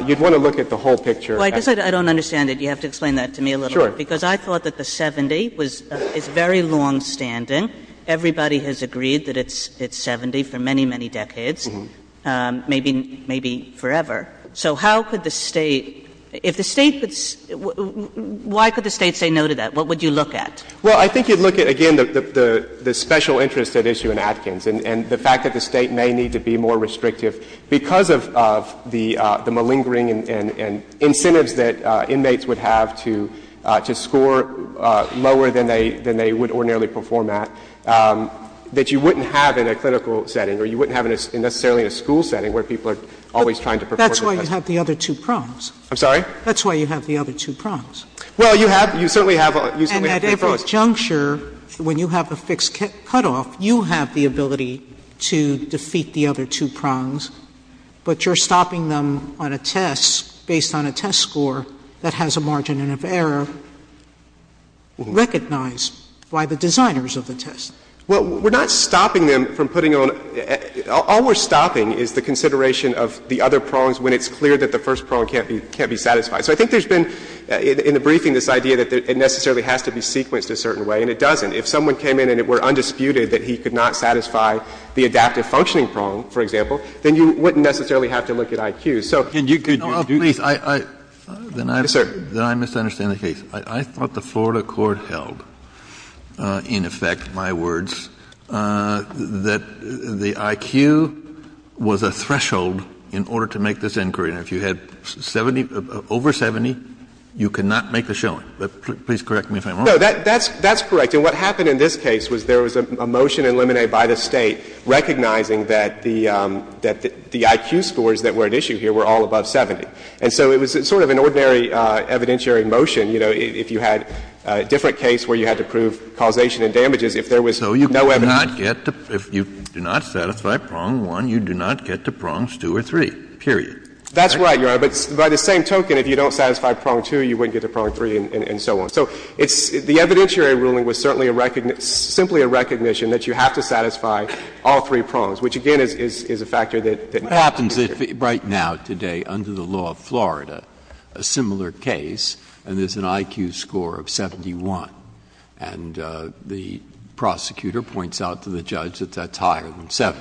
you'd want to look at the whole picture. Well, I guess I don't understand it. You have to explain that to me a little bit. Sure. Because I thought that the 70 is very longstanding. Everybody has agreed that it's 70 for many, many decades. Maybe forever. So how could the State – if the State – why could the State say no to that? What would you look at? Well, I think you'd look at, again, the special interest at issue in Atkins and the fact that the State may need to be more restrictive because of the malingering and incentives that inmates would have to score lower than they would ordinarily perform at, that you wouldn't have in a clinical setting or you wouldn't have in necessarily in a school setting where people are always trying to perform. That's why you have the other two prongs. I'm sorry? That's why you have the other two prongs. Well, you have – you certainly have – you certainly have the pros. And at every juncture, when you have a fixed cutoff, you have the ability to defeat the other two prongs, but you're stopping them on a test based on a test score that has a margin of error recognized by the designers of the test. Well, we're not stopping them from putting on – all we're stopping is the consideration of the other prongs when it's clear that the first prong can't be – can't be satisfied. So I think there's been in the briefing this idea that it necessarily has to be sequenced a certain way, and it doesn't. If someone came in and it were undisputed that he could not satisfy the adaptive functioning prong, for example, then you wouldn't necessarily have to look at IQ. So can you – No, please. Yes, sir. Then I misunderstand the case. I thought the Florida court held, in effect, my words, that the IQ was a threshold in order to make this inquiry. Now, if you had 70 – over 70, you could not make the showing. Please correct me if I'm wrong. No, that's correct. And what happened in this case was there was a motion eliminated by the State recognizing that the IQ scores that were at issue here were all above 70. And so it was sort of an ordinary evidentiary motion. You know, if you had a different case where you had to prove causation and damages, if there was no evidence. So you could not get to – if you do not satisfy prong one, you do not get to prongs two or three, period. That's right, Your Honor. But by the same token, if you don't satisfy prong two, you wouldn't get to prong three and so on. So it's – the evidentiary ruling was certainly a – simply a recognition that you have to satisfy all three prongs, which, again, is a factor that – What happens if right now, today, under the law of Florida, a similar case and there's an IQ score of 71, and the prosecutor points out to the judge that that's higher than 70,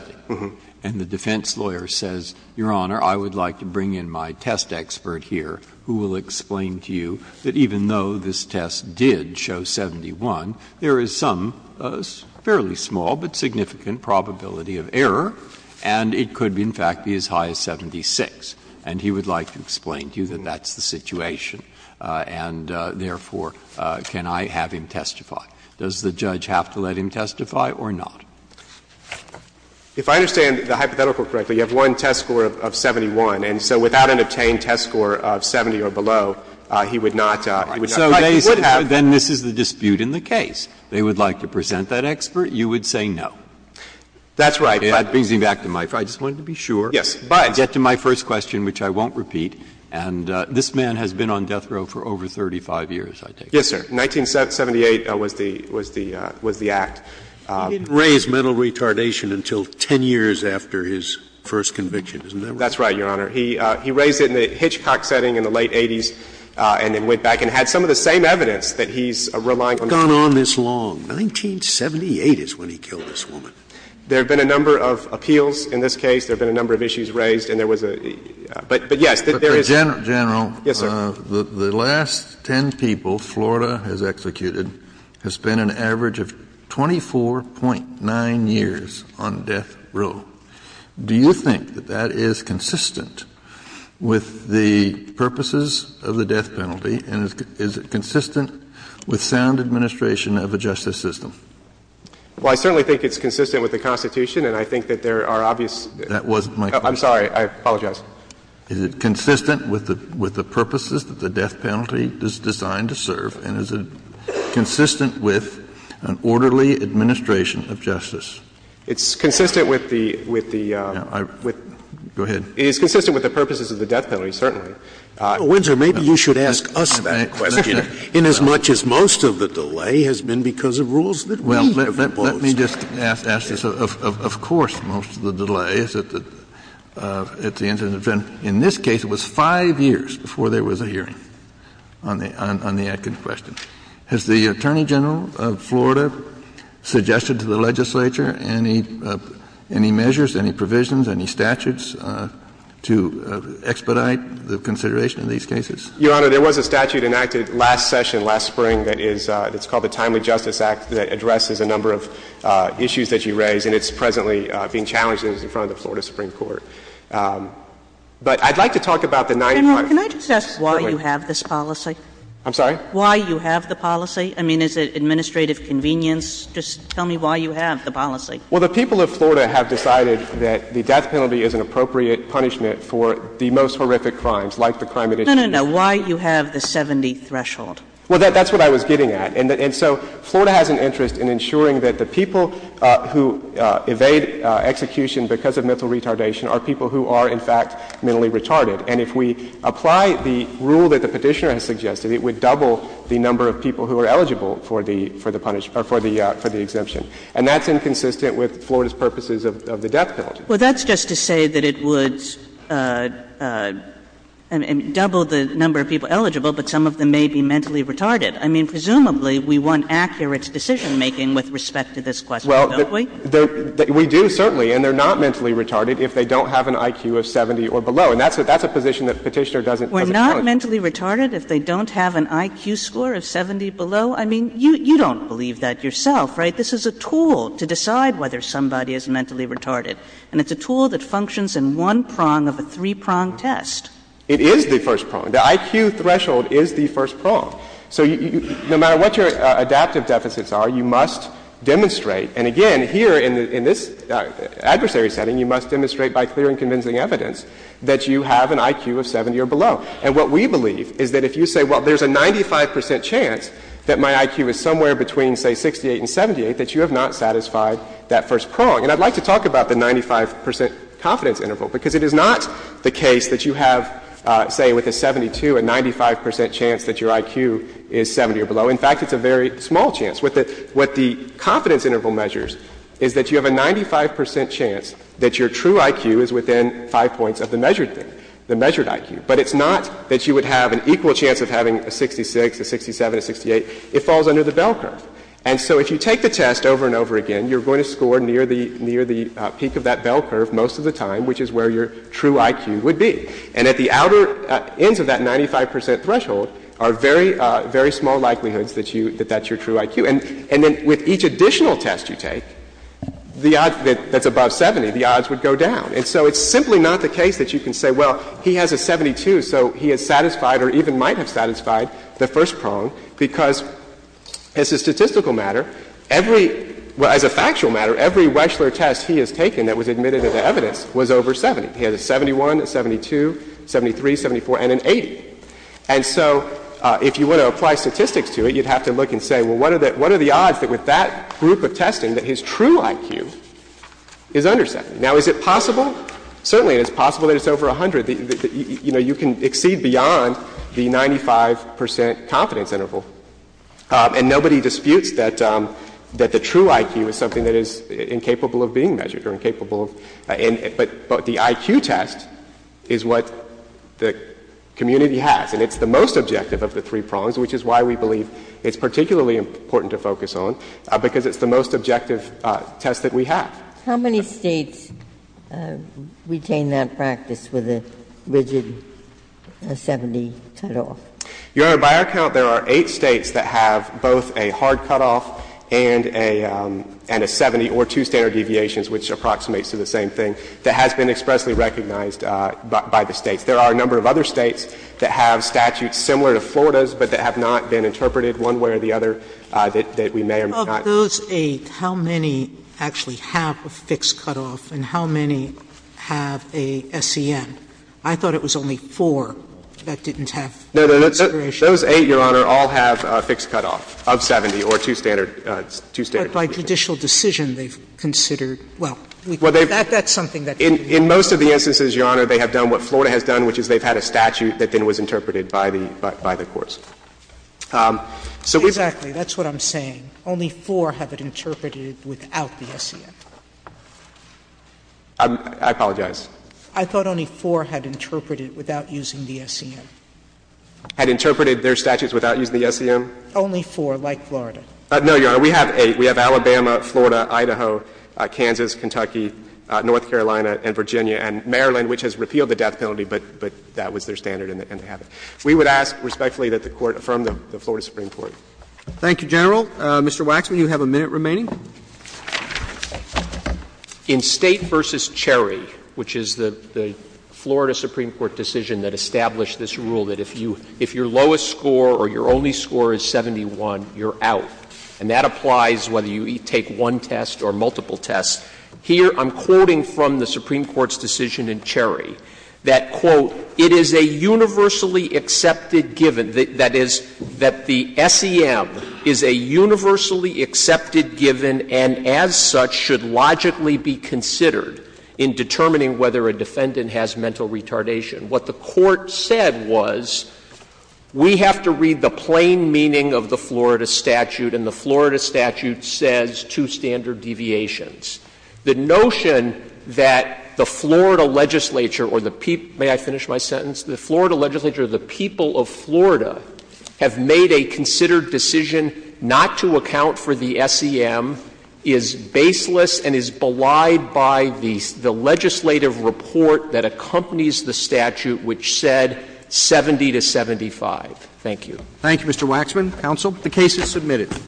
and the defense lawyer says, Your Honor, I would like to bring in my test expert here who will explain to you that even though this test did show 71, there is some fairly small but significant probability of error, and it could, in fact, be as high as 76, and he would like to explain to you that that's the situation and, therefore, can I have him testify. Does the judge have to let him testify or not? If I understand the hypothetical correctly, you have one test score of 71, and so without an obtained test score of 70 or below, he would not – he would not have to testify. Then this is the dispute in the case. They would like to present that expert. You would say no. That's right. That brings me back to my – I just wanted to be sure and get to my first question, which I won't repeat. And this man has been on death row for over 35 years, I take it. Yes, sir. 1978 was the – was the act. He didn't raise mental retardation until 10 years after his first conviction, isn't that right? That's right, Your Honor. He raised it in the Hitchcock setting in the late 80s and then went back and had some of the same evidence that he's relying on. He's gone on this long. 1978 is when he killed this woman. There have been a number of appeals in this case. There have been a number of issues raised, and there was a – but, yes, there is. General. Yes, sir. The last 10 people Florida has executed has spent an average of 24.9 years on death row. Do you think that that is consistent with the purposes of the death penalty, and is it consistent with sound administration of a justice system? Well, I certainly think it's consistent with the Constitution, and I think that there are obvious – That wasn't my question. I'm sorry. I apologize. Is it consistent with the purposes that the death penalty is designed to serve, and is it consistent with an orderly administration of justice? It's consistent with the – with the – Go ahead. It is consistent with the purposes of the death penalty, certainly. Windsor, maybe you should ask us that question, inasmuch as most of the delay has been because of rules that we have imposed. Well, let me just ask this. Of course most of the delay is at the end of the sentence. In this case, it was five years before there was a hearing on the Adkins question. Has the Attorney General of Florida suggested to the legislature any measures, any provisions, any statutes to expedite the consideration of these cases? Your Honor, there was a statute enacted last session last spring that is – that's called the Timely Justice Act that addresses a number of issues that you raised, and it's presently being challenged in front of the Florida Supreme Court. But I'd like to talk about the 95 – General, can I just ask why you have this policy? I'm sorry? Why you have the policy? I mean, is it administrative convenience? Just tell me why you have the policy. Well, the people of Florida have decided that the death penalty is an appropriate punishment for the most horrific crimes, like the crime at issue. No, no, no. Why you have the 70 threshold? Well, that's what I was getting at. And so Florida has an interest in ensuring that the people who evade execution because of mental retardation are people who are, in fact, mentally retarded. And if we apply the rule that the Petitioner has suggested, it would double the number of people who are eligible for the – for the punishment – or for the exemption. And that's inconsistent with Florida's purposes of the death penalty. Well, that's just to say that it would double the number of people eligible, but some of them may be mentally retarded. I mean, presumably, we want accurate decision-making with respect to this question, don't we? Well, we do, certainly. And they're not mentally retarded if they don't have an IQ of 70 or below. And that's a position that Petitioner doesn't challenge. We're not mentally retarded if they don't have an IQ score of 70 or below? I mean, you don't believe that yourself, right? This is a tool to decide whether somebody is mentally retarded. And it's a tool that functions in one prong of a three-prong test. It is the first prong. The IQ threshold is the first prong. So no matter what your adaptive deficits are, you must demonstrate – and again, here in this adversary setting, you must demonstrate by clear and convincing evidence that you have an IQ of 70 or below. And what we believe is that if you say, well, there's a 95% chance that my IQ is somewhere between, say, 68 and 78, that you have not satisfied that first prong. And I'd like to talk about the 95% confidence interval, because it is not the case that you have, say, with a 72, a 95% chance that your IQ is 70 or below. In fact, it's a very small chance. What the confidence interval measures is that you have a 95% chance that your true IQ is 75 points of the measured IQ. But it's not that you would have an equal chance of having a 66, a 67, a 68. It falls under the bell curve. And so if you take the test over and over again, you're going to score near the peak of that bell curve most of the time, which is where your true IQ would be. And at the outer ends of that 95% threshold are very, very small likelihoods that that's your true IQ. And then with each additional test you take, the odds that's above 70, the odds would go down. And so it's simply not the case that you can say, well, he has a 72, so he is satisfied or even might have satisfied the first prong, because as a statistical matter, every — as a factual matter, every Weschler test he has taken that was admitted into evidence was over 70. He had a 71, a 72, 73, 74, and an 80. And so if you want to apply statistics to it, you'd have to look and say, well, what are the odds that with that group of testing that his true IQ is under 70? Now, is it possible? Certainly it's possible that it's over 100. You know, you can exceed beyond the 95% confidence interval. And nobody disputes that the true IQ is something that is incapable of being measured or incapable of — but the IQ test is what the community has, and it's the most objective of the three prongs, which is why we believe it's particularly important to focus on, because it's the most objective test that we have. How many States retain that practice with a rigid 70 cutoff? Your Honor, by our count, there are eight States that have both a hard cutoff and a 70 or two standard deviations, which approximates to the same thing, that has been expressly recognized by the States. There are a number of other States that have statutes similar to Florida's, but that have not been interpreted one way or the other, that we may or may not. Of those eight, how many actually have a fixed cutoff, and how many have a SEN? I thought it was only four that didn't have consideration. Those eight, Your Honor, all have a fixed cutoff of 70 or two standard deviations. But by judicial decision, they've considered — well, that's something that can be— In most of the instances, Your Honor, they have done what Florida has done, which is they've had a statute that then was interpreted by the courts. So we've— Exactly. That's what I'm saying. Only four have it interpreted without the SEN. I apologize. I thought only four had interpreted without using the SEN. Had interpreted their statutes without using the SEN? Only four, like Florida. No, Your Honor. We have eight. We have Alabama, Florida, Idaho, Kansas, Kentucky, North Carolina, and Virginia, and Maryland, which has repealed the death penalty, but that was their standard and they have it. We would ask respectfully that the Court affirm the Florida Supreme Court. Thank you, General. Mr. Waxman, you have a minute remaining. In State v. Cherry, which is the Florida Supreme Court decision that established this rule that if you — if your lowest score or your only score is 71, you're out, and that applies whether you take one test or multiple tests. Here I'm quoting from the Supreme Court's decision in Cherry that, quote, it is a universally accepted given, that is, that the SEM is a universally accepted given and as such should logically be considered in determining whether a defendant has mental retardation. What the Court said was we have to read the plain meaning of the Florida statute, and the Florida statute says two standard deviations. The notion that the Florida legislature or the — may I finish my sentence? The Florida legislature or the people of Florida have made a considered decision not to account for the SEM is baseless and is belied by the legislative report that accompanies the statute, which said 70 to 75. Thank you. Thank you, Mr. Waxman. Counsel. The case is submitted.